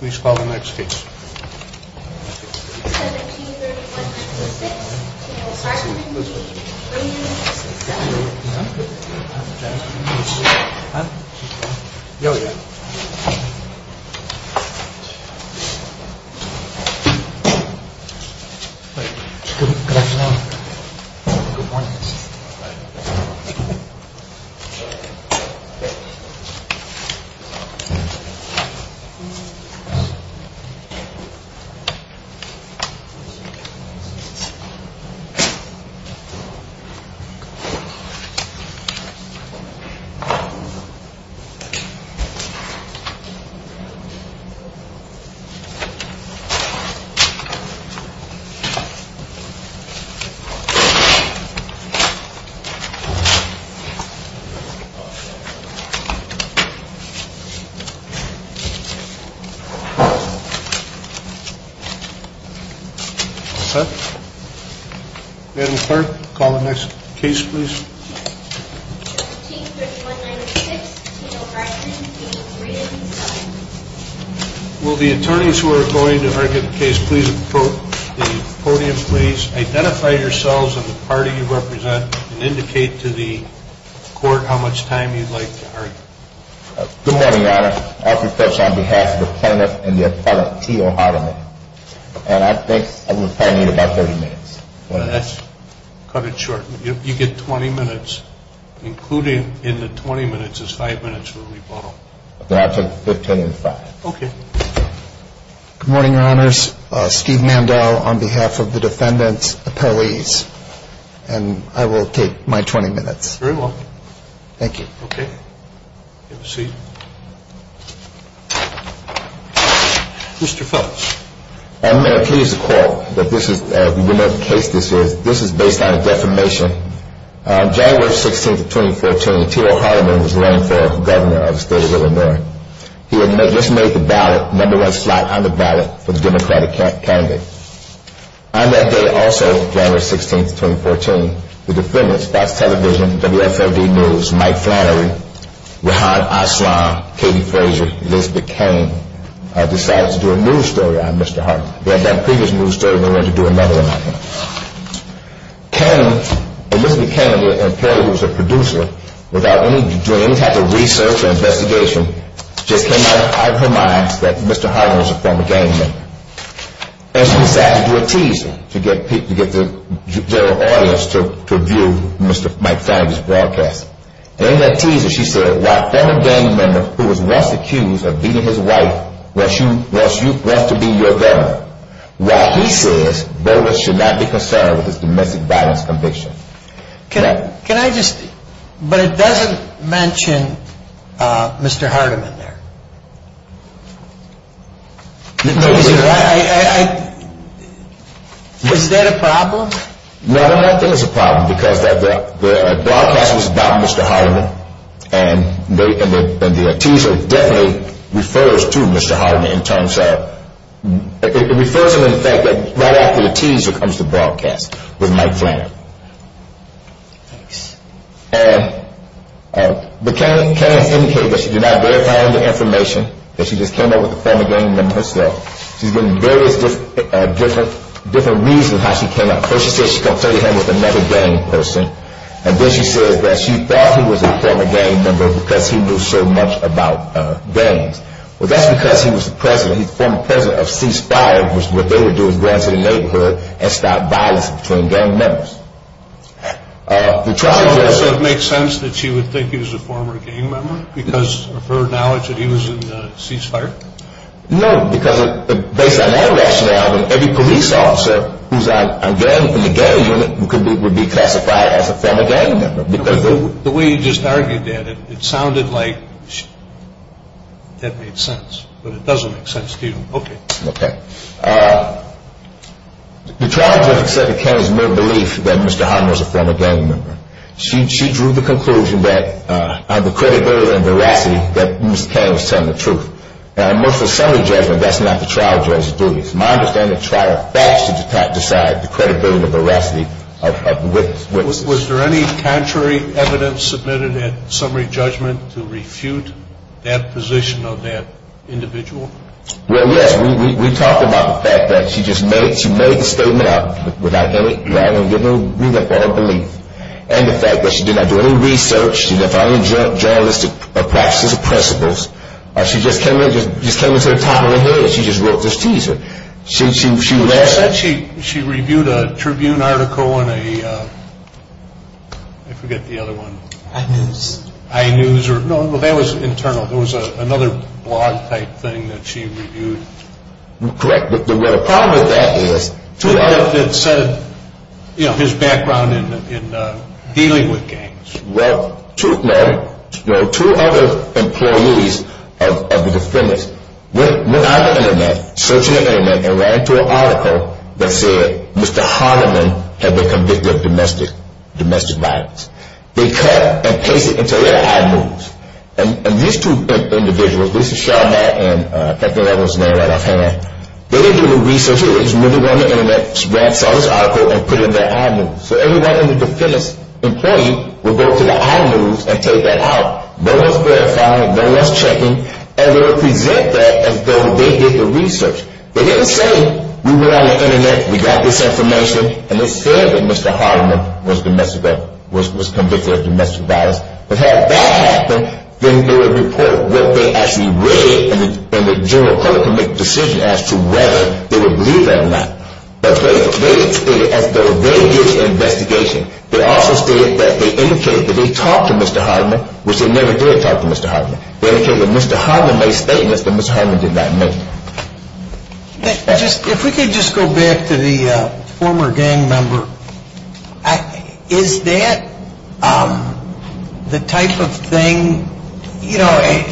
Please call the next case. Will the attorneys who are going to argue the case please approach the podium please. Identify yourselves and the party you represent and indicate to the court how much time you'd like to argue. Good morning your honor. I'll preface on behalf of the plaintiff and the appellant T.O. Hardiman. And I think I will probably need about 30 minutes. Cut it short. You get 20 minutes. Including in the 20 minutes is 5 minutes for the rebuttal. Then I'll take 15 and 5. Okay. Good morning your honors. Steve Mandel on behalf of the defendant's appellees. And I will take my 20 minutes. Very well. Thank you. Okay. You may proceed. Mr. Phelps. I'm going to please the court that this is based on a defamation. January 16th of 2014 T.O. Hardiman was running for governor of the state of Illinois. He had just made the ballot, the number one slot on the ballot for the democratic candidate. On that day also, January 16th, 2014, the defendant's Fox Television, WFLD News, Mike Flannery, Rehan Aslan, Katie Frazier, Elizabeth Kane decided to do a news story on Mr. Hardiman. They had done a previous news story and they wanted to do another one on him. Kane, Elizabeth Kane, an employee who was a producer without any dreams, had to research and investigation, just came out of her mind that Mr. Hardiman was a former gang member. And she decided to do a teaser to get the general audience to view Mr. Mike Flannery's broadcast. And in that teaser she said, while former gang member who was once accused of beating his wife wants to be your governor, while he says voters should not be concerned with this domestic violence conviction. Can I just, but it doesn't mention Mr. Hardiman there. Is that a problem? No, I don't think it's a problem because the broadcast was about Mr. Hardiman and the teaser definitely refers to Mr. Hardiman in terms of, it refers to the fact that right after the teaser comes the broadcast with Mike Flannery. Thanks. But Kane has indicated that she did not verify any of the information, that she just came out with the former gang member herself. She's given various different reasons how she came out. First she said she confronted him with another gang person. And then she said that she thought he was a former gang member because he knew so much about gangs. Well, that's because he was the president, he's the former president of Ceasefire, which is what they would do is go into the neighborhood and stop violence between gang members. So it makes sense that she would think he was a former gang member because of her knowledge that he was in Ceasefire? No, because based on that rationale, every police officer who's a gang member in the gang unit would be classified as a former gang member. The way you just argued that, it sounded like that made sense, but it doesn't make sense to you. Okay. Okay. The trial judge accepted Kane's mere belief that Mr. Hardiman was a former gang member. She drew the conclusion that on the credibility and veracity that Mr. Kane was telling the truth. And most of the summary judgment, that's not the trial judge's duty. It's my understanding the trial judge has to decide the credibility and veracity of the witness. Was there any contrary evidence submitted at summary judgment to refute that position of that individual? Well, yes. We talked about the fact that she just made the statement without any rebuttal or belief. And the fact that she did not do any research, she did not follow any journalistic practices or principles. She just came into the time of her head. She just wrote this teaser. She said she reviewed a Tribune article in a, I forget the other one. iNews. iNews. No, that was internal. It was another blog type thing that she reviewed. Correct. The problem with that is. It said his background in dealing with gangs. Well, no. Two other employees of the defendants went out on the Internet, searched the Internet, and ran into an article that said Mr. Hardeman had been convicted of domestic violence. They cut and pasted it into their iNews. And these two individuals, this is Sean Hatton, I can't think of everyone's name right offhand. They didn't do any research. They just went on the Internet, saw this article, and put it in their iNews. So everyone in the defendant's employee would go to the iNews and take that out. No one's verifying it. No one's checking. And they would present that as though they did the research. They didn't say, we went on the Internet, we got this information, and it said that Mr. Hardeman was convicted of domestic violence. But had that happened, then they would report what they actually read, and the general public would make a decision as to whether they would believe that or not. But they stated as though they did the investigation. They also stated that they indicated that they talked to Mr. Hardeman, which they never did talk to Mr. Hardeman. They indicated that Mr. Hardeman made statements that Mr. Hardeman did not make. If we could just go back to the former gang member. Is that the type of thing, you know,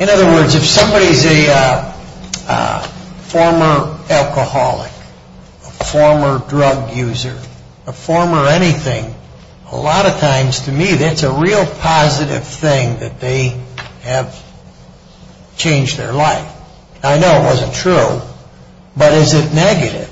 In other words, if somebody's a former alcoholic, a former drug user, a former anything, a lot of times, to me, that's a real positive thing that they have changed their life. I know it wasn't true, but is it negative?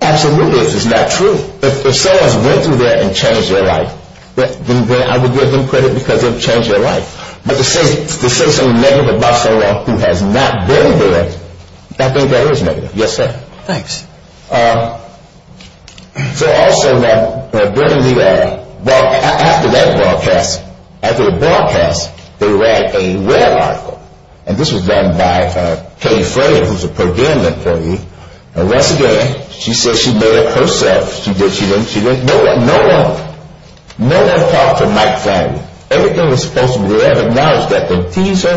Absolutely, if it's not true. If someone's went through that and changed their life, then I would give them credit because they've changed their life. But to say something negative about someone who has not been there, I think that is negative. Yes, sir. Thanks. So also, after that broadcast, they read a rare article. And this was done by Katie Frey, who's a Pergamon employee. And once again, she said she made it herself. She didn't, she didn't, no one, no one, no one talked to Mike Flannery. Everything was supposed to be there, but now it's that the teaser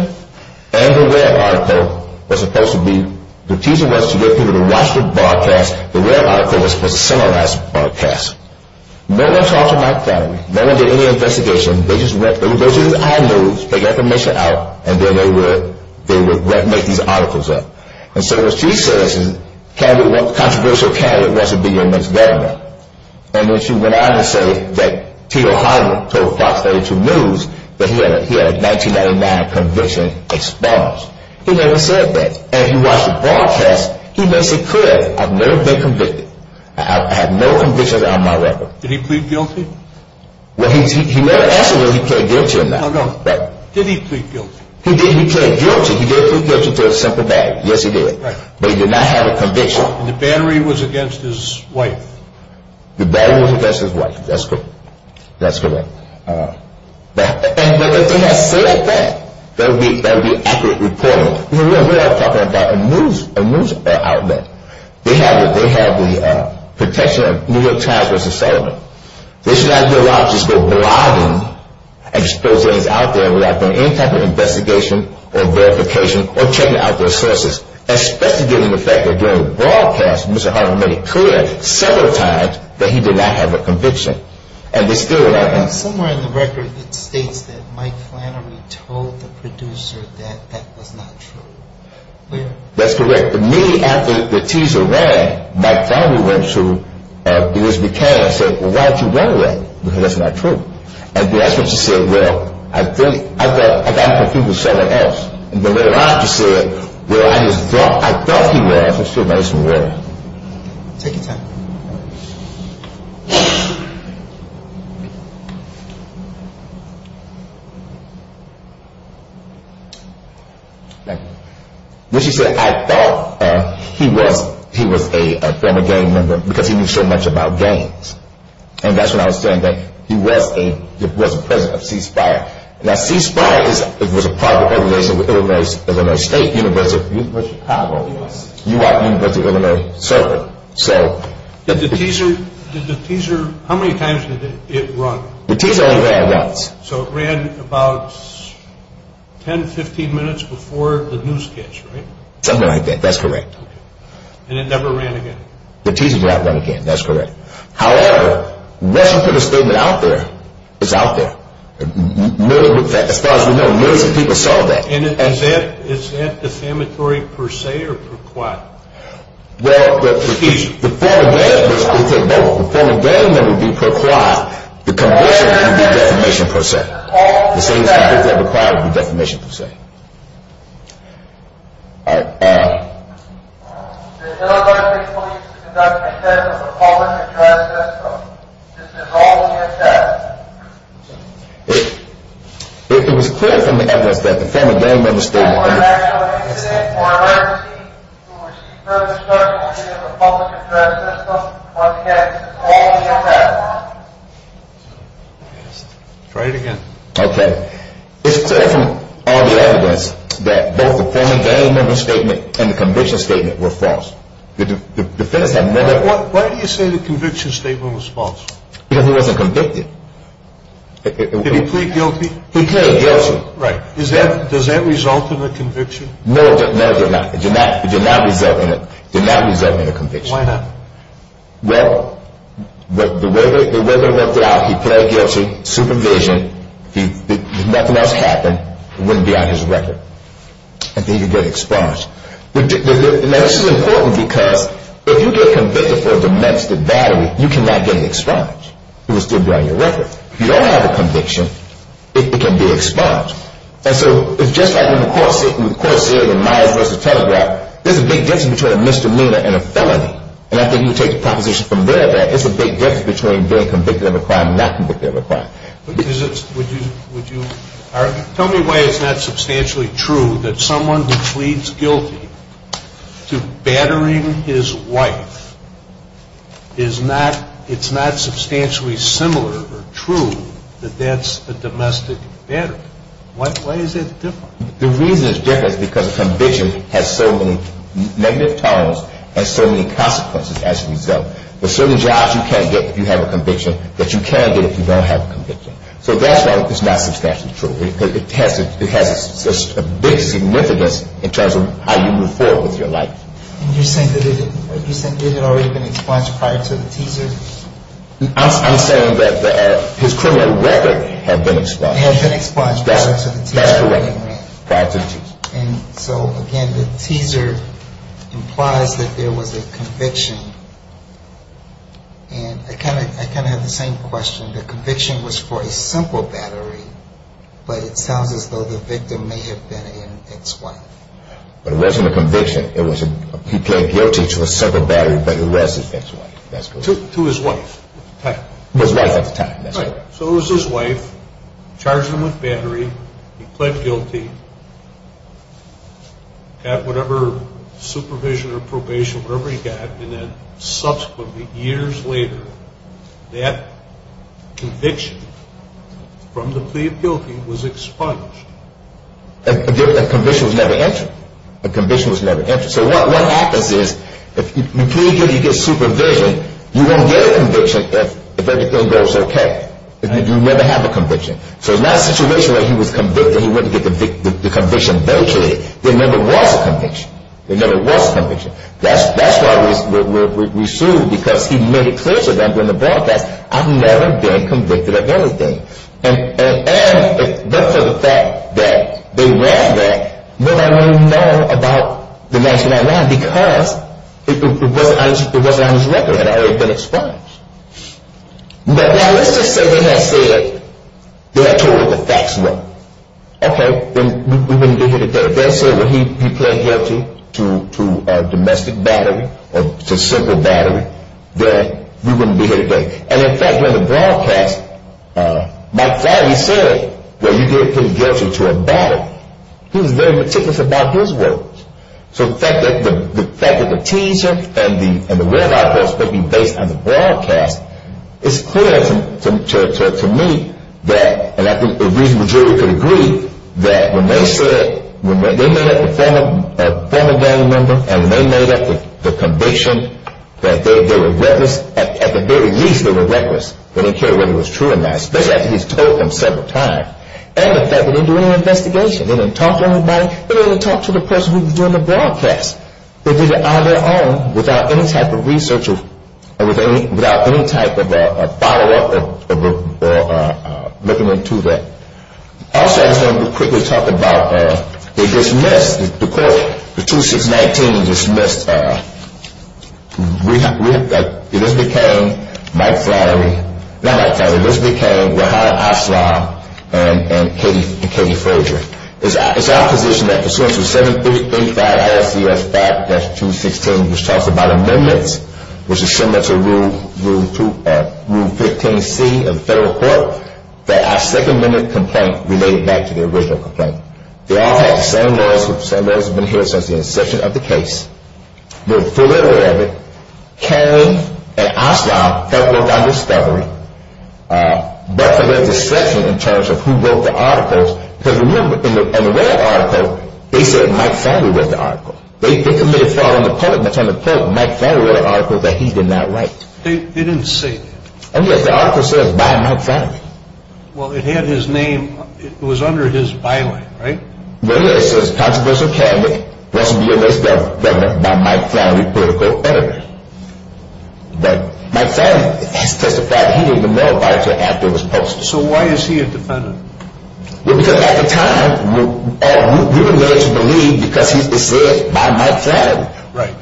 and the rare article was supposed to be, the teaser was to get people to watch the broadcast. The rare article was supposed to summarize the broadcast. No one talked to Mike Flannery. No one did any investigation. They just went, they would go to his iNews, take information out, and then they would make these articles up. And so what she says is, candidate, controversial candidate wants to be your next governor. And then she went on to say that Tito Hollywood told Fox 32 News that he had a 1999 conviction exposed. He never said that. And if you watch the broadcast, he makes it clear. I've never been convicted. I have no convictions on my record. Did he plead guilty? Well, he never answered whether he pleaded guilty or not. No, no. Did he plead guilty? He did. He pleaded guilty. So he did plead guilty to a simple battery. Yes, he did. Right. But he did not have a conviction. The battery was against his wife. The battery was against his wife. That's correct. That's correct. But if they had said that, that would be an accurate reporting. We're not talking about a news outlet. They have the protection of New York Times v. Sullivan. They should not be allowed to just go blogging exposés out there without doing any type of investigation or verification or checking out their sources, especially given the fact that during the broadcast, Mr. Hardiman made it clear several times that he did not have a conviction. And they still are not. Somewhere in the record, it states that Mike Flannery told the producer that that was not true. That's correct. But to me, after the teaser ran, Mike Flannery went to Denise McCann and said, well, why don't you run away, because that's not true. And Denise McCann said, well, I think I got confused with someone else. And then later on, she said, well, I thought he was. It still makes me worry. Take your time. Thank you. When she said, I thought he was a former gang member because he knew so much about gangs. And that's when I was saying that he was the president of Ceasefire. Now, Ceasefire was a private organization with Illinois State, University of Chicago, University of Illinois serving. Did the teaser, how many times did it run? The teaser only ran once. So it ran about 10, 15 minutes before the newscast, right? Something like that. That's correct. And it never ran again? The teaser did not run again. That's correct. However, unless you put a statement out there, it's out there. As far as we know, millions of people saw that. And is that defamatory per se or per quid? Well, the former gang member would be per quid. The conviction would be defamation per se. The same thing as per quid would be defamation per se. All right. The Illinois State Police conducted a test of a public address system. Is this all in your test? If it was clear from the evidence that the former gang member's statement. Try it again. Okay. It's clear from all the evidence that both the former gang member's statement and the conviction statement were false. The defense had never. Why do you say the conviction statement was false? Because he wasn't convicted. Did he plead guilty? He pleaded guilty. Right. Does that result in a conviction? No, it did not. It did not result in a conviction. Why not? Well, the way they worked it out, he pleaded guilty, supervision. Nothing else happened. It wouldn't be on his record. And then he'd get expunged. Now, this is important because if you get convicted for a domestic battery, you cannot get it expunged. It would still be on your record. If you don't have a conviction, it can be expunged. And so it's just like when the court said in Myers v. Telegraph, there's a big difference between a misdemeanor and a felony. And I think you take the proposition from there that there's a big difference between being convicted of a crime and not convicted of a crime. Tell me why it's not substantially true that someone who pleads guilty to battering his wife, it's not substantially similar or true that that's a domestic battery. Why is that different? The reason it's different is because a conviction has so many negative terms and so many consequences as a result. There's certain jobs you can get if you have a conviction that you can't get if you don't have a conviction. So that's why it's not substantially true. It has a big significance in terms of how you move forward with your life. And you're saying that it had already been expunged prior to the teaser? I'm saying that his criminal record had been expunged. Had been expunged prior to the teaser. That's correct. Prior to the teaser. And so again, the teaser implies that there was a conviction. And I kind of have the same question. The conviction was for a simple battery, but it sounds as though the victim may have been an ex-wife. But it wasn't a conviction. He pled guilty to a simple battery, but he was an ex-wife. To his wife at the time. His wife at the time. So it was his wife. Charged him with battery. He pled guilty. Got whatever supervision or probation, whatever he got. And then subsequently, years later, that conviction from the plea of guilty was expunged. A conviction was never entered. A conviction was never entered. So what happens is, if you plead guilty, you get supervision, you won't get a conviction if everything goes okay. You never have a conviction. So in that situation where he was convicted, he wouldn't get the conviction eventually, there never was a conviction. There never was a conviction. That's why we sued, because he made it clear to them during the broadcast, I've never been convicted of anything. And for the fact that they ran that, nobody really knew about the mansion I ran, because it wasn't on his record. It had already been expunged. Now let's just say they had said, they had told him the facts were. Okay, then we wouldn't be here today. If they had said that he pled guilty to a domestic battery, or to a simple battery, then we wouldn't be here today. And, in fact, during the broadcast, Mike Flannery said, well, you did plead guilty to a battery. He was very meticulous about his words. So the fact that the teaser and the red light bulbs could be based on the broadcast, it's clear to me that, and I think a reasonable jury could agree, that when they said, when they met up with a former gang member, and when they met up with the conviction, that they were reckless, at the very least they were reckless. They didn't care whether it was true or not, especially after he's told them several times. And the fact that they didn't do any investigation, they didn't talk to anybody, they didn't even talk to the person who was doing the broadcast. They did it on their own, without any type of research, without any type of follow-up or looking into that. Also, I just want to quickly talk about, they dismissed, the court, the 2619 dismissed Elizabeth Cain, Mike Flannery, not Mike Flannery, Elizabeth Cain, Rehan Aslam, and Katie Frazier. It's our position that pursuant to 735 RCS 5-216, which talks about amendments, which is similar to Rule 15C of the federal court, that our second amendment complaint related back to the original complaint. They all had the same lawyers who have been here since the inception of the case, were fully aware of it. Cain and Aslam helped work on discovery, but for their discretion in terms of who wrote the articles, because remember, in the red article, they said Mike Flannery wrote the article. They committed fraud on the part of Mike Flannery in the article that he did not write. They didn't say that. Oh yes, the article says, by Mike Flannery. Well, it had his name, it was under his byline, right? Well yes, it says, controversial candidate, wants to be a vice president by Mike Flannery, political editor. But Mike Flannery has testified that he didn't even know about it until after it was posted. So why is he a defendant? Well, because at the time, we were led to believe because it said by Mike Flannery.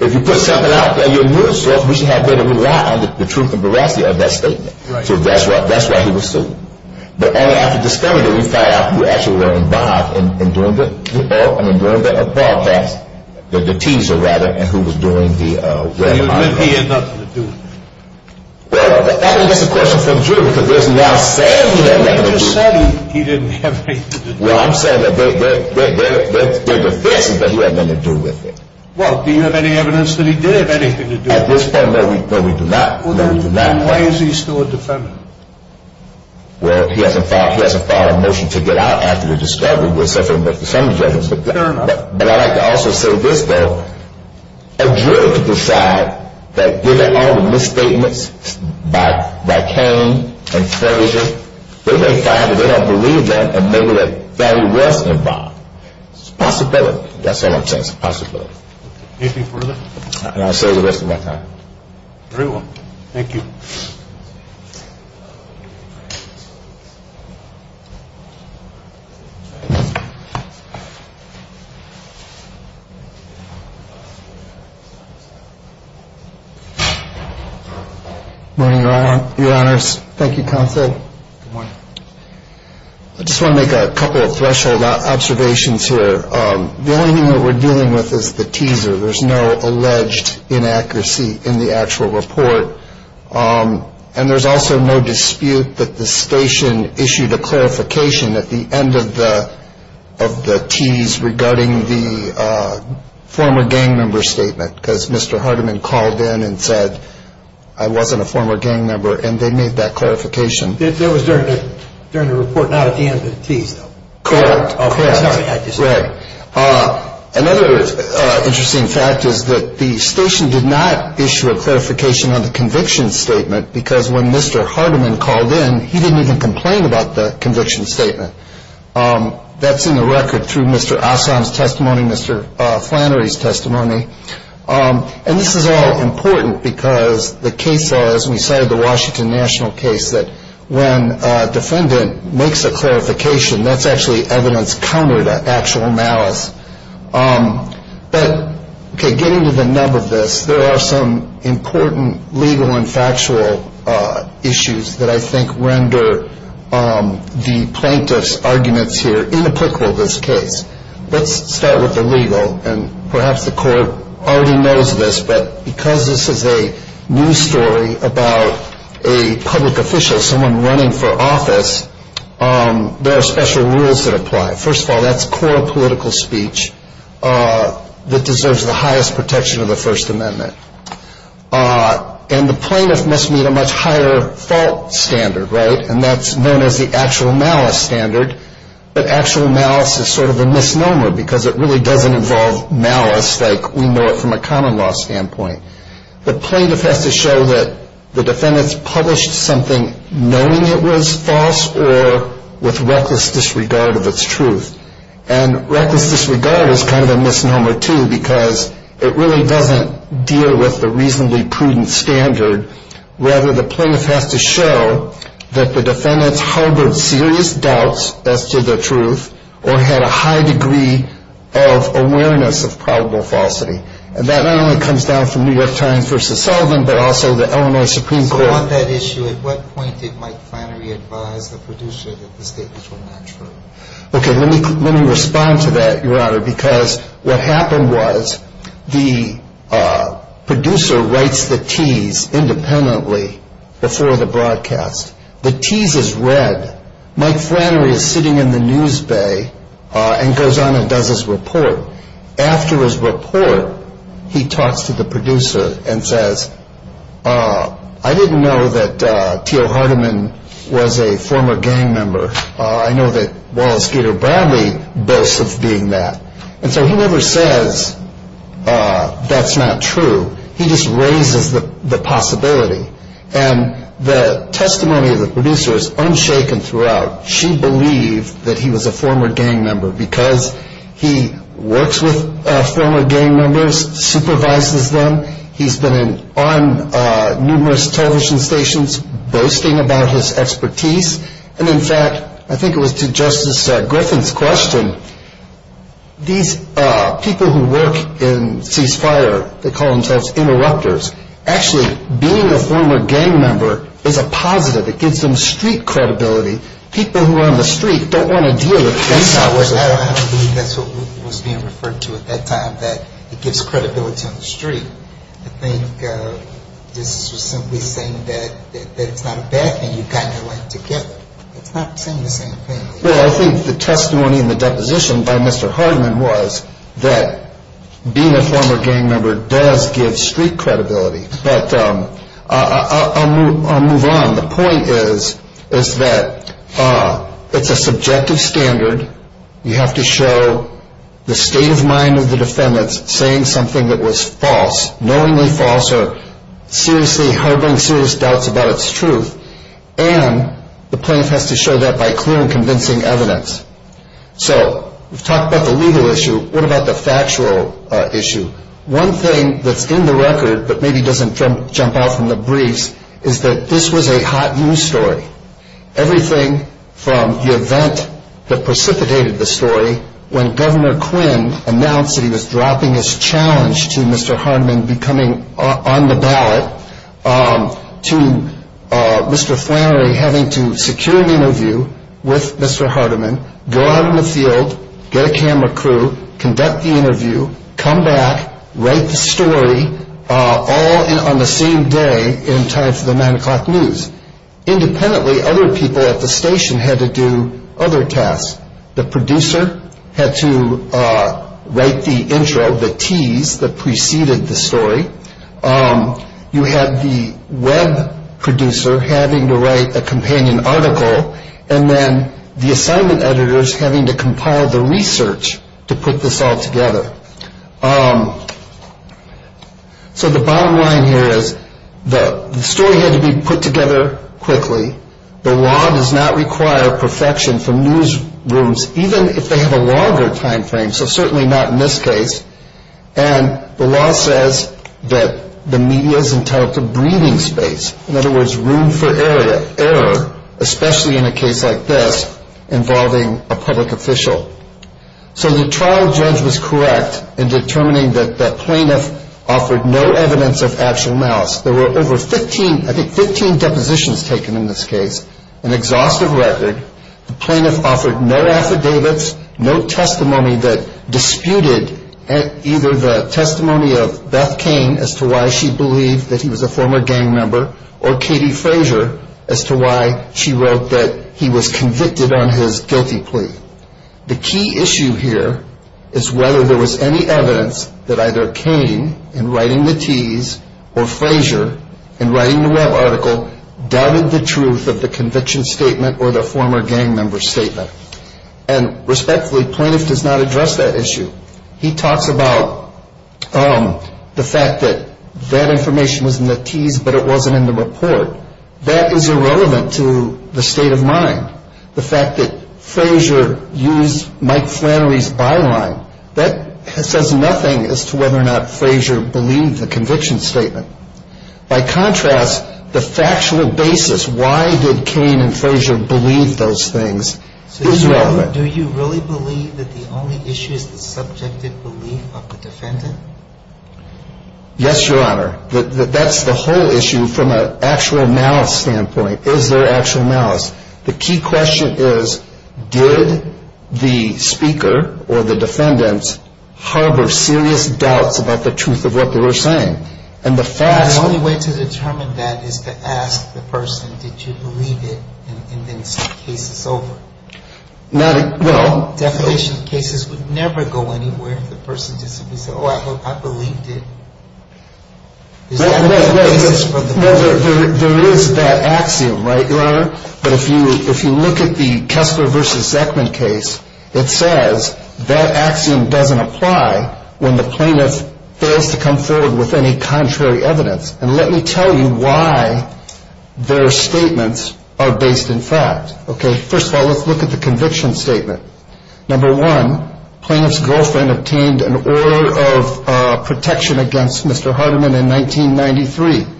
If you put something out there in your news source, we should have been able to rely on the truth and veracity of that statement. So that's why he was sued. But only after discovery did we find out who actually were involved in doing the broadcast, the teaser rather, and who was doing the red article. He had nothing to do with it. Well, that's a question for Drew, because there's now saying that he had nothing to do with it. He just said he didn't have anything to do with it. Well, I'm saying that there are defenses that he had nothing to do with it. Well, do you have any evidence that he did have anything to do with it? At this point, no, we do not. Then why is he still a defendant? Well, he hasn't filed a motion to get out after the discovery. Fair enough. And I'd like to also say this, though. A jury could decide that given all the misstatements by Cain and Ferguson, they're going to find that they don't believe that and maybe that Fannie was involved. It's a possibility. That's all I'm saying. It's a possibility. Anything further? And I'll say it the rest of my time. Very well. Thank you. Good morning, Your Honors. Thank you, Counsel. Good morning. I just want to make a couple of threshold observations here. The only thing that we're dealing with is the teaser. There's no alleged inaccuracy in the actual report. And there's also no dispute that the station issued a clarification at the end of the tease regarding the former gang member statement because Mr. Hardiman called in and said I wasn't a former gang member and they made that clarification. That was during the report, not at the end of the tease, though. Correct. Correct. Another interesting fact is that the station did not issue a clarification on the conviction statement because when Mr. Hardiman called in, he didn't even complain about the conviction statement. That's in the record through Mr. Assam's testimony, Mr. Flannery's testimony. And this is all important because the case laws, and we cited the Washington National case, that when a defendant makes a clarification, that's actually evidence counter to actual malice. But getting to the nub of this, there are some important legal and factual issues that I think render the plaintiff's arguments here inapplicable to this case. Let's start with the legal, and perhaps the court already knows this, but because this is a news story about a public official, someone running for office, there are special rules that apply. First of all, that's core political speech that deserves the highest protection of the First Amendment. And the plaintiff must meet a much higher fault standard, right? And that's known as the actual malice standard. But actual malice is sort of a misnomer because it really doesn't involve malice like we know it from a common law standpoint. The plaintiff has to show that the defendant's published something knowing it was false or with reckless disregard of its truth. And reckless disregard is kind of a misnomer, too, because it really doesn't deal with the reasonably prudent standard. Rather, the plaintiff has to show that the defendant's harbored serious doubts as to the truth or had a high degree of awareness of probable falsity. And that not only comes down from New York Times v. Sullivan, but also the Illinois Supreme Court. So on that issue, at what point did Mike Flannery advise the producer that the statements were not true? Okay, let me respond to that, Your Honor, because what happened was the producer writes the tease independently before the broadcast. The tease is read. Mike Flannery is sitting in the news bay and goes on and does his report. After his report, he talks to the producer and says, I didn't know that T.O. Hardiman was a former gang member. I know that Wallace Gator Bradley boasts of being that. And so he never says that's not true. He just raises the possibility. And the testimony of the producer is unshaken throughout. She believed that he was a former gang member because he works with former gang members, supervises them. He's been on numerous television stations boasting about his expertise. And, in fact, I think it was to Justice Griffin's question, these people who work in Cease Fire, they call themselves interrupters. Actually, being a former gang member is a positive. It gives them street credibility. People who are on the street don't want to deal with gang members. I don't believe that's what was being referred to at that time, that it gives credibility on the street. I think this was simply saying that it's not a bad thing you got your way together. It's not saying the same thing. Well, I think the testimony and the deposition by Mr. Hardiman was that being a former gang member does give street credibility. But I'll move on. The point is that it's a subjective standard. You have to show the state of mind of the defendants saying something that was false, knowingly false, or seriously harboring serious doubts about its truth. And the plaintiff has to show that by clear and convincing evidence. So we've talked about the legal issue. What about the factual issue? One thing that's in the record, but maybe doesn't jump out from the briefs, is that this was a hot news story. Everything from the event that precipitated the story, when Governor Quinn announced that he was dropping his challenge to Mr. Hardiman becoming on the ballot, to Mr. Flannery having to secure an interview with Mr. Hardiman, go out in the field, get a camera crew, conduct the interview, come back, write the story, all on the same day in time for the 9 o'clock news. Independently, other people at the station had to do other tasks. The producer had to write the intro, the tease that preceded the story. You had the web producer having to write a companion article. And then the assignment editors having to compile the research to put this all together. So the bottom line here is the story had to be put together quickly. The law does not require perfection from newsrooms, even if they have a longer time frame. So certainly not in this case. And the law says that the media is entitled to breathing space. In other words, room for error, especially in a case like this involving a public official. So the trial judge was correct in determining that the plaintiff offered no evidence of actual malice. There were over 15, I think 15 depositions taken in this case, an exhaustive record. The plaintiff offered no affidavits, no testimony that disputed either the testimony of Beth Kane as to why she believed that he was a former gang member, or Katie Frazier as to why she wrote that he was convicted on his guilty plea. The key issue here is whether there was any evidence that either Kane, in writing the tease, or Frazier, in writing the web article, doubted the truth of the conviction statement or the former gang member statement. And respectfully, plaintiff does not address that issue. He talks about the fact that that information was in the tease, but it wasn't in the report. That is irrelevant to the state of mind. The fact that Frazier used Mike Flannery's byline, that says nothing as to whether or not Frazier believed the conviction statement. By contrast, the factual basis, why did Kane and Frazier believe those things, is relevant. Now, do you really believe that the only issue is the subjective belief of the defendant? Yes, Your Honor. That's the whole issue from an actual malice standpoint. Is there actual malice? The key question is, did the speaker or the defendant harbor serious doubts about the truth of what they were saying? The only way to determine that is to ask the person, did you believe it? And then the case is over. Definition of cases would never go anywhere if the person just simply said, oh, I believed it. There is that axiom, right, Your Honor? But if you look at the Kessler v. Zeckman case, it says that axiom doesn't apply when the plaintiff fails to come forward with any contrary evidence. And let me tell you why their statements are based in fact. Okay, first of all, let's look at the conviction statement. Number one, plaintiff's girlfriend obtained an order of protection against Mr. Hardiman in 1993.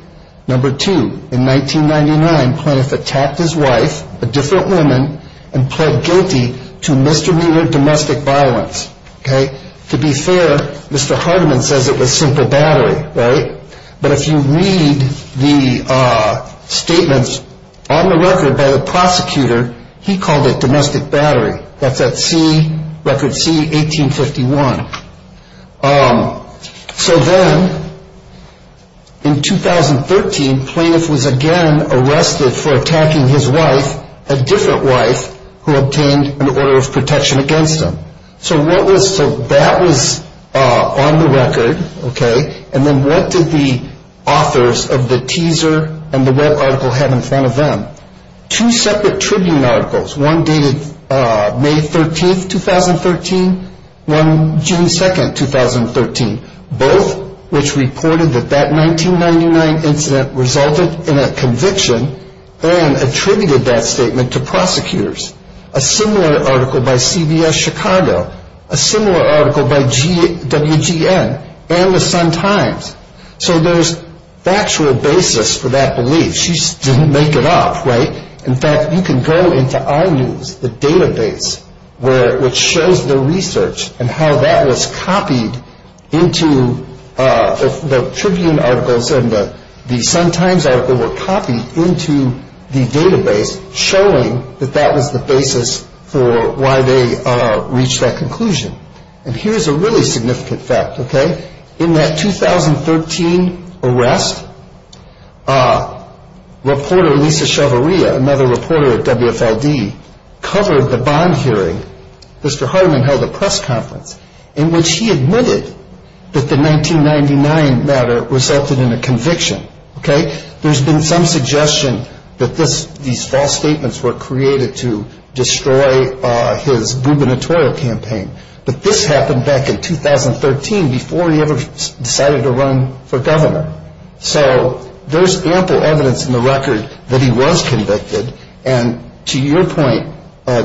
Number two, in 1999, plaintiff attacked his wife, a different woman, and pled guilty to misdemeanor domestic violence. Okay? To be fair, Mr. Hardiman says it was simple battery, right? But if you read the statements on the record by the prosecutor, he called it domestic battery. That's at C, record C, 1851. So then in 2013, plaintiff was again arrested for attacking his wife, a different wife, who obtained an order of protection against him. So that was on the record, okay? And then what did the authors of the teaser and the web article have in front of them? Two separate tribune articles, one dated May 13, 2013, one June 2, 2013, both which reported that that 1999 incident resulted in a conviction and attributed that statement to prosecutors. A similar article by CBS Chicago, a similar article by WGN, and the Sun-Times. So there's factual basis for that belief. She just didn't make it up, right? In fact, you can go into our news, the database, which shows the research and how that was copied into the tribune articles and all of a sudden the Sun-Times article were copied into the database, showing that that was the basis for why they reached that conclusion. And here's a really significant fact, okay? In that 2013 arrest, reporter Lisa Chavarria, another reporter at WFLD, covered the bond hearing. Mr. Hardiman held a press conference in which he admitted that the 1999 matter resulted in a conviction, okay? There's been some suggestion that these false statements were created to destroy his gubernatorial campaign. But this happened back in 2013 before he ever decided to run for governor. So there's ample evidence in the record that he was convicted. And to your point,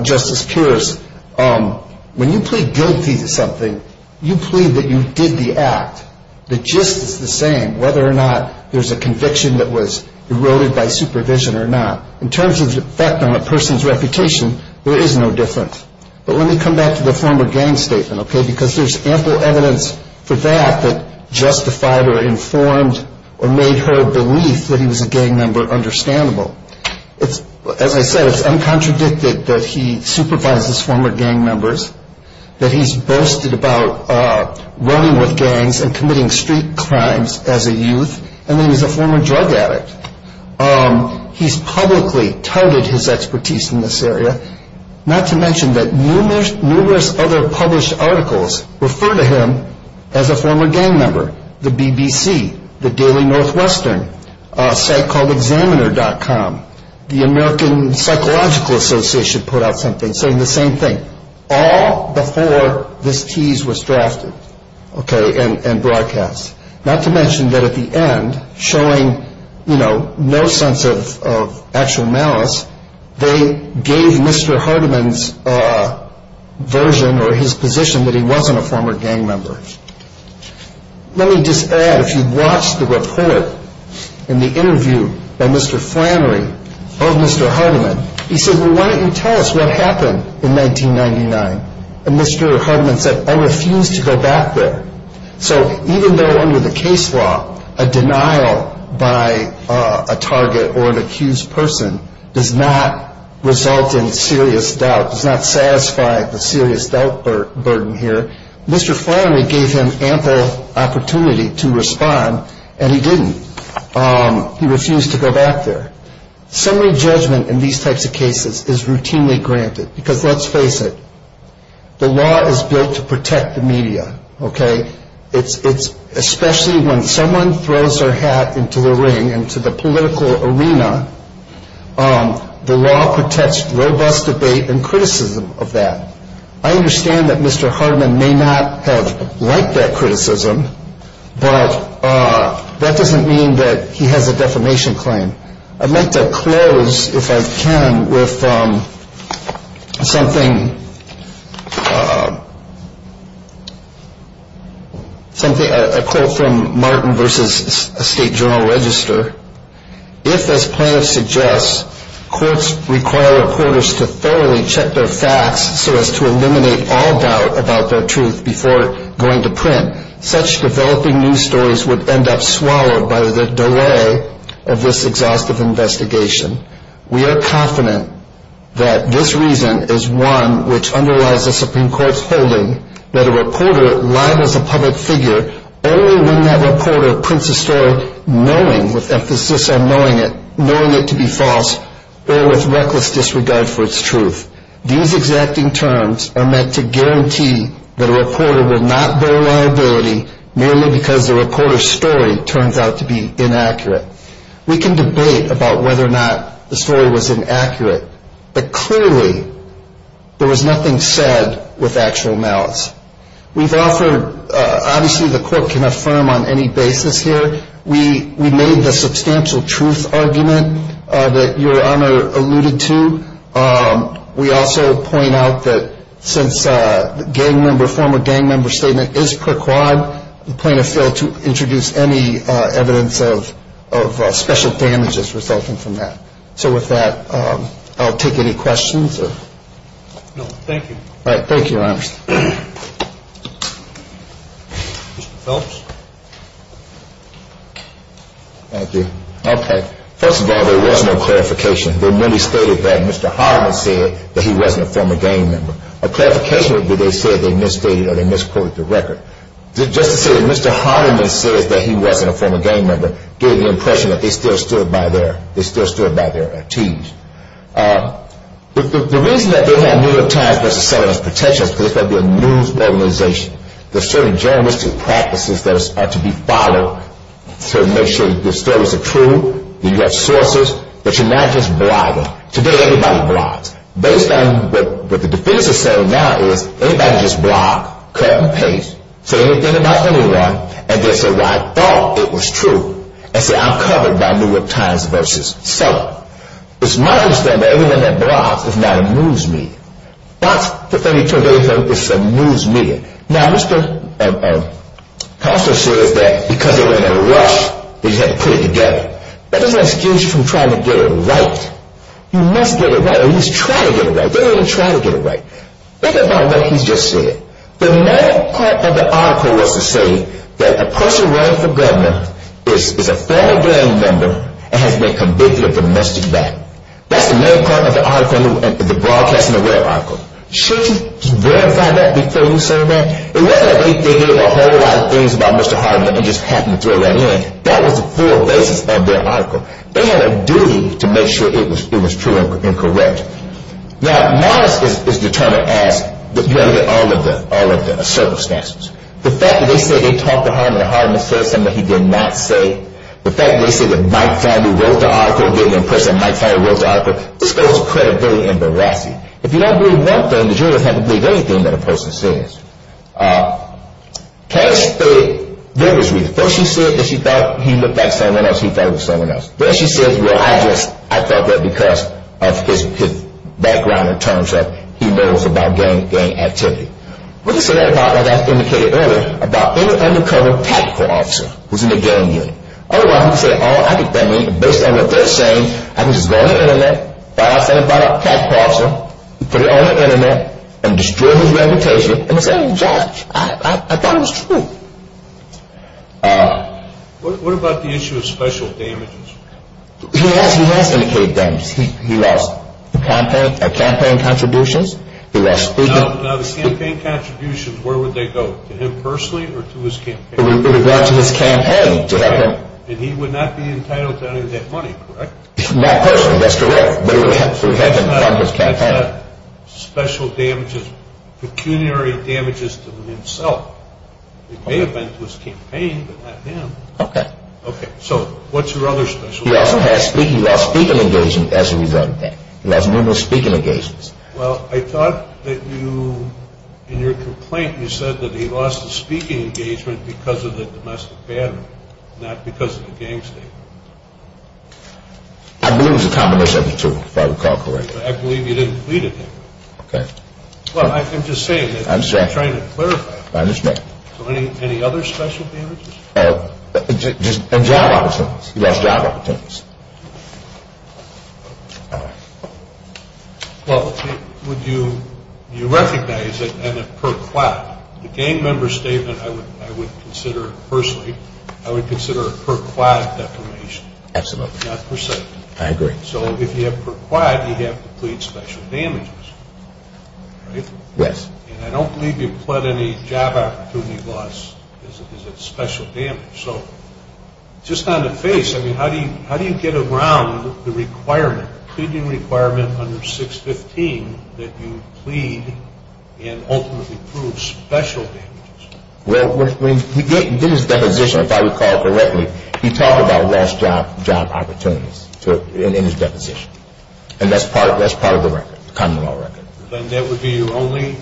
Justice Pierce, when you plead guilty to something, you plead that you did the act. The gist is the same, whether or not there's a conviction that was eroded by supervision or not. In terms of the effect on a person's reputation, there is no difference. But let me come back to the former gang statement, okay, because there's ample evidence for that that justified or informed or made her belief that he was a gang member understandable. As I said, it's uncontradicted that he supervises former gang members, that he's boasted about running with gangs and committing street crimes as a youth, and that he's a former drug addict. He's publicly touted his expertise in this area, not to mention that numerous other published articles refer to him as a former gang member. The BBC, the Daily Northwestern, a site called examiner.com, the American Psychological Association put out something saying the same thing. All before this tease was drafted, okay, and broadcast. Not to mention that at the end, showing, you know, no sense of actual malice, they gave Mr. Hardiman's version or his position that he wasn't a former gang member. Let me just add, if you watched the report in the interview by Mr. Flannery of Mr. Hardiman, he said, well, why don't you tell us what happened in 1999? And Mr. Hardiman said, I refuse to go back there. So even though under the case law, a denial by a target or an accused person does not result in serious doubt, does not satisfy the serious doubt burden here, Mr. Flannery gave him ample opportunity to respond, and he didn't. He refused to go back there. Summary judgment in these types of cases is routinely granted, because let's face it, the law is built to protect the media, okay? Especially when someone throws their hat into the ring, into the political arena, the law protects robust debate and criticism of that. I understand that Mr. Hardiman may not have liked that criticism, but that doesn't mean that he has a defamation claim. I'd like to close, if I can, with something, a quote from Martin v. State Journal-Register. If, as plaintiffs suggest, courts require reporters to thoroughly check their facts so as to eliminate all doubt about their truth before going to print, such developing news stories would end up swallowed by the delay of this exhaustive investigation. We are confident that this reason is one which underlies the Supreme Court's holding that a reporter libels a public figure only when that reporter prints a story knowing, with emphasis on knowing it, knowing it to be false, or with reckless disregard for its truth. These exacting terms are meant to guarantee that a reporter will not bear liability merely because the reporter's story turns out to be inaccurate. We can debate about whether or not the story was inaccurate, but clearly there was nothing said with actual malice. We've offered, obviously the court can affirm on any basis here, we made the substantial truth argument that Your Honor alluded to, we also point out that since the former gang member statement is per quad, the plaintiff failed to introduce any evidence of special damages resulting from that. So with that, I'll take any questions. No, thank you. Thank you, Your Honor. Mr. Phelps. Thank you. Okay. First of all, there was no clarification. They merely stated that Mr. Hardeman said that he wasn't a former gang member. A clarification would be they said they misstated or they misquoted the record. Just to say that Mr. Hardeman says that he wasn't a former gang member gave the impression that they still stood by their attitude. The reason that they have New York Times as a set of protections is because it's going to be a news organization. There's certain journalistic practices that are to be followed to make sure the stories are true, that you have sources, that you're not just bribing. Today everybody bribes. Based on what the defense is saying now is anybody can just bribe, cut and paste, say anything about anyone, and then say, well, I thought it was true, and say I'm covered by New York Times versus Seller. It's my understanding that everyone that bribes is not a news media. Fox, the 32nd Daily Film, is a news media. Now, Mr. Costa says that because they were in a rush, they just had to put it together. That doesn't excuse you from trying to get it right. You must get it right, or at least try to get it right. They don't even try to get it right. Think about what he's just said. The main part of the article was to say that a person running for governor is a former gang member and has been convicted of domestic violence. That's the main part of the article in the Broadcasting Aware article. Shouldn't you verify that before you say that? It wasn't like they did a whole lot of things about Mr. Hardiman and just happened to throw that in. That was the full basis of their article. They had a duty to make sure it was true and correct. Now, modest is determined as all of the circumstances. The fact that they say they talked to Hardiman and Hardiman said something that he did not say, the fact that they say that Mike Fannie wrote the article, this goes credibility and veracity. If you don't believe one thing, the jury doesn't have to believe anything that a person says. Cash said there was reason. First she said that she thought he looked like someone else, he thought he was someone else. Then she says, well, I just thought that because of his background in terms of he knows about gang activity. We can say that about, like I indicated earlier, about any undercover tactical officer who's in the gang unit. Otherwise we can say, oh, I think that means, based on what they're saying, I can just go on the Internet, find out something about a tactical officer, put it on the Internet, and destroy his reputation and say, hey, Josh, I thought it was true. What about the issue of special damages? He has indicated damages. He lost campaign contributions. Now, the campaign contributions, where would they go, to him personally or to his campaign? It would go out to his campaign. And he would not be entitled to any of that money, correct? Not personally, that's correct. But it would have to have happened on his campaign. That's not special damages, pecuniary damages to himself. It may have been to his campaign, but not him. Okay. So what's your other special damages? He also lost speaking engagements as a result of that. He lost a number of speaking engagements. Well, I thought that you, in your complaint, you said that he lost the speaking engagement because of the domestic bandit, not because of the gang state. I believe it was a combination of the two, if I recall correctly. I believe you didn't plead with him. Okay. Well, I'm just saying that I'm trying to clarify. I understand. So any other special damages? Just job opportunities. He lost job opportunities. Well, would you recognize that per quad, the gang member statement I would consider, personally, I would consider a per quad defamation. Absolutely. Not per se. I agree. So if you have per quad, you have to plead special damages, right? Yes. And I don't believe you pled any job opportunity loss as a special damage. So just on the face, I mean, how do you get around the requirement, pleading requirement under 615 that you plead and ultimately prove special damages? Well, when he gave his deposition, if I recall correctly, he talked about lost job opportunities in his deposition. And that's part of the record, the common law record. Then that would be your only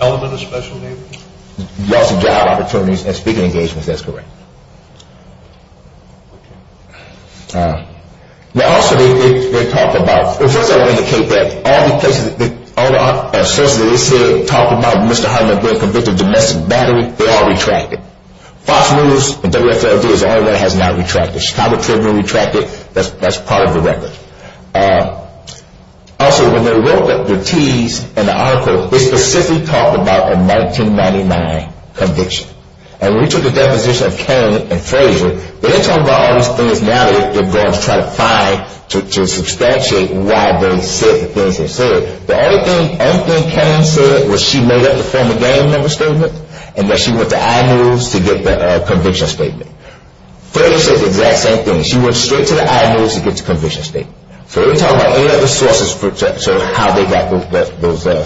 element of special damages? Loss of job opportunities and speaking engagements, that's correct. Now, also, they talk about, first I want to indicate that all the places, all the sources that they say talk about Mr. Hartman being convicted of domestic battery, they are retracted. Fox News and WFLD is the only one that has not retracted. Chicago Tribune retracted. That's part of the record. Also, when they wrote the tease in the article, they specifically talked about a 1999 conviction. And when we took the deposition of Cain and Frazier, they talked about all these things now that they're going to try to find to substantiate why they said the things they said. The only thing Cain said was she made up the former gang member statement and that she went to iNews to get the conviction statement. Frazier said the exact same thing. She went straight to the iNews to get the conviction statement. So they didn't talk about any other sources for how they got the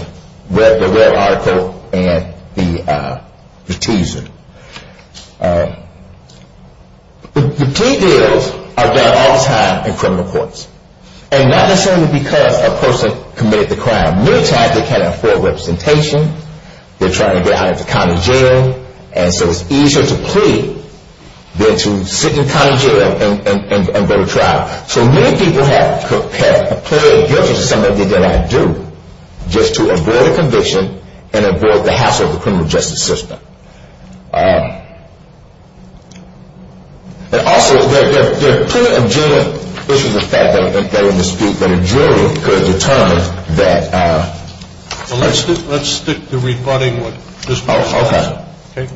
red article and the teaser. The plea deals are done all the time in criminal courts. And not necessarily because a person committed the crime. Many times they can't afford representation. They're trying to get out of the county jail. And so it's easier to plead than to sit in county jail and go to trial. So many people have pleaded guilty to some of the things that I do just to avoid a conviction and avoid the hassle of the criminal justice system. And also, there are plenty of genuine issues of fact that are in the dispute that are genuine because it determines that. Well, let's stick to rebutting what this person said. Okay.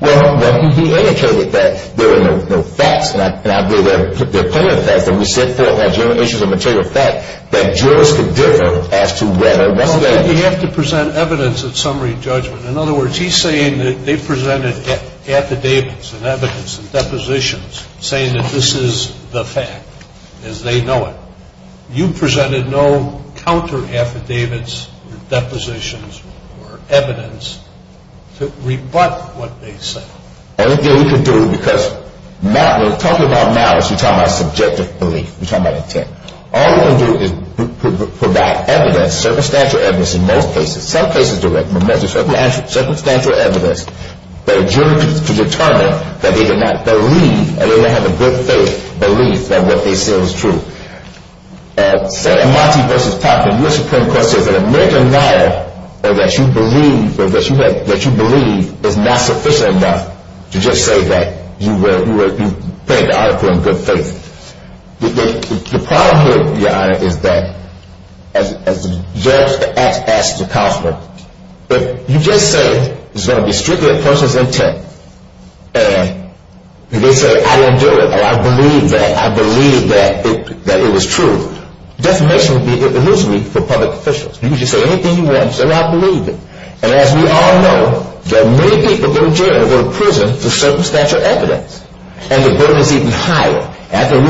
Well, he indicated that there were no facts. And I believe there are plenty of facts. And we said there are genuine issues of material fact that jurors can differ as to whether or not that is true. You have to present evidence of summary judgment. In other words, he's saying that they presented affidavits and evidence and depositions saying that this is the fact as they know it. You presented no counter affidavits, depositions, or evidence to rebut what they said. The only thing we can do because we're talking about malice. We're talking about subjective belief. We're talking about intent. All we're going to do is provide evidence, circumstantial evidence in most cases, some cases direct, circumstantial evidence, that jurors can determine that they did not believe and they don't have a good faith belief that what they said was true. So Amanti v. Popkin, your Supreme Court says that a major lie that you believe is not sufficient enough to just say that you presented the article in good faith. The problem here, Your Honor, is that as the judge asks the counselor, if you just say it's going to be strictly a person's intent, and they say, I didn't do it, or I believe that, I believe that it was true, defamation would be illusory for public officials. You can just say anything you want. Just say, I don't believe it. And as we all know, there are many people going to jail or going to prison for circumstantial evidence. And the burden is even higher. And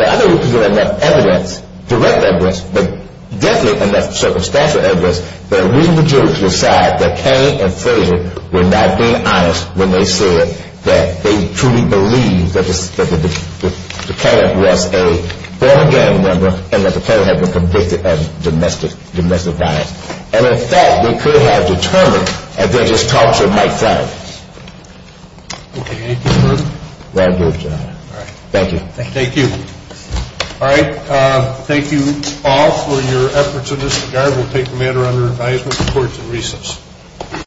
the other group is going to have evidence, direct evidence, but definitely enough circumstantial evidence that we, the jurors, will decide that Kane and Frazier were not being honest when they said that they truly believed that the plaintiff was a former gang member and that the plaintiff had been convicted of domestic violence. And, in fact, they could have determined that they're just talking to a microphone. Okay. Any further questions? All right. Thank you. Thank you. All right. Thank you all for your efforts in this regard. We'll take the matter under advisement before it's in recess.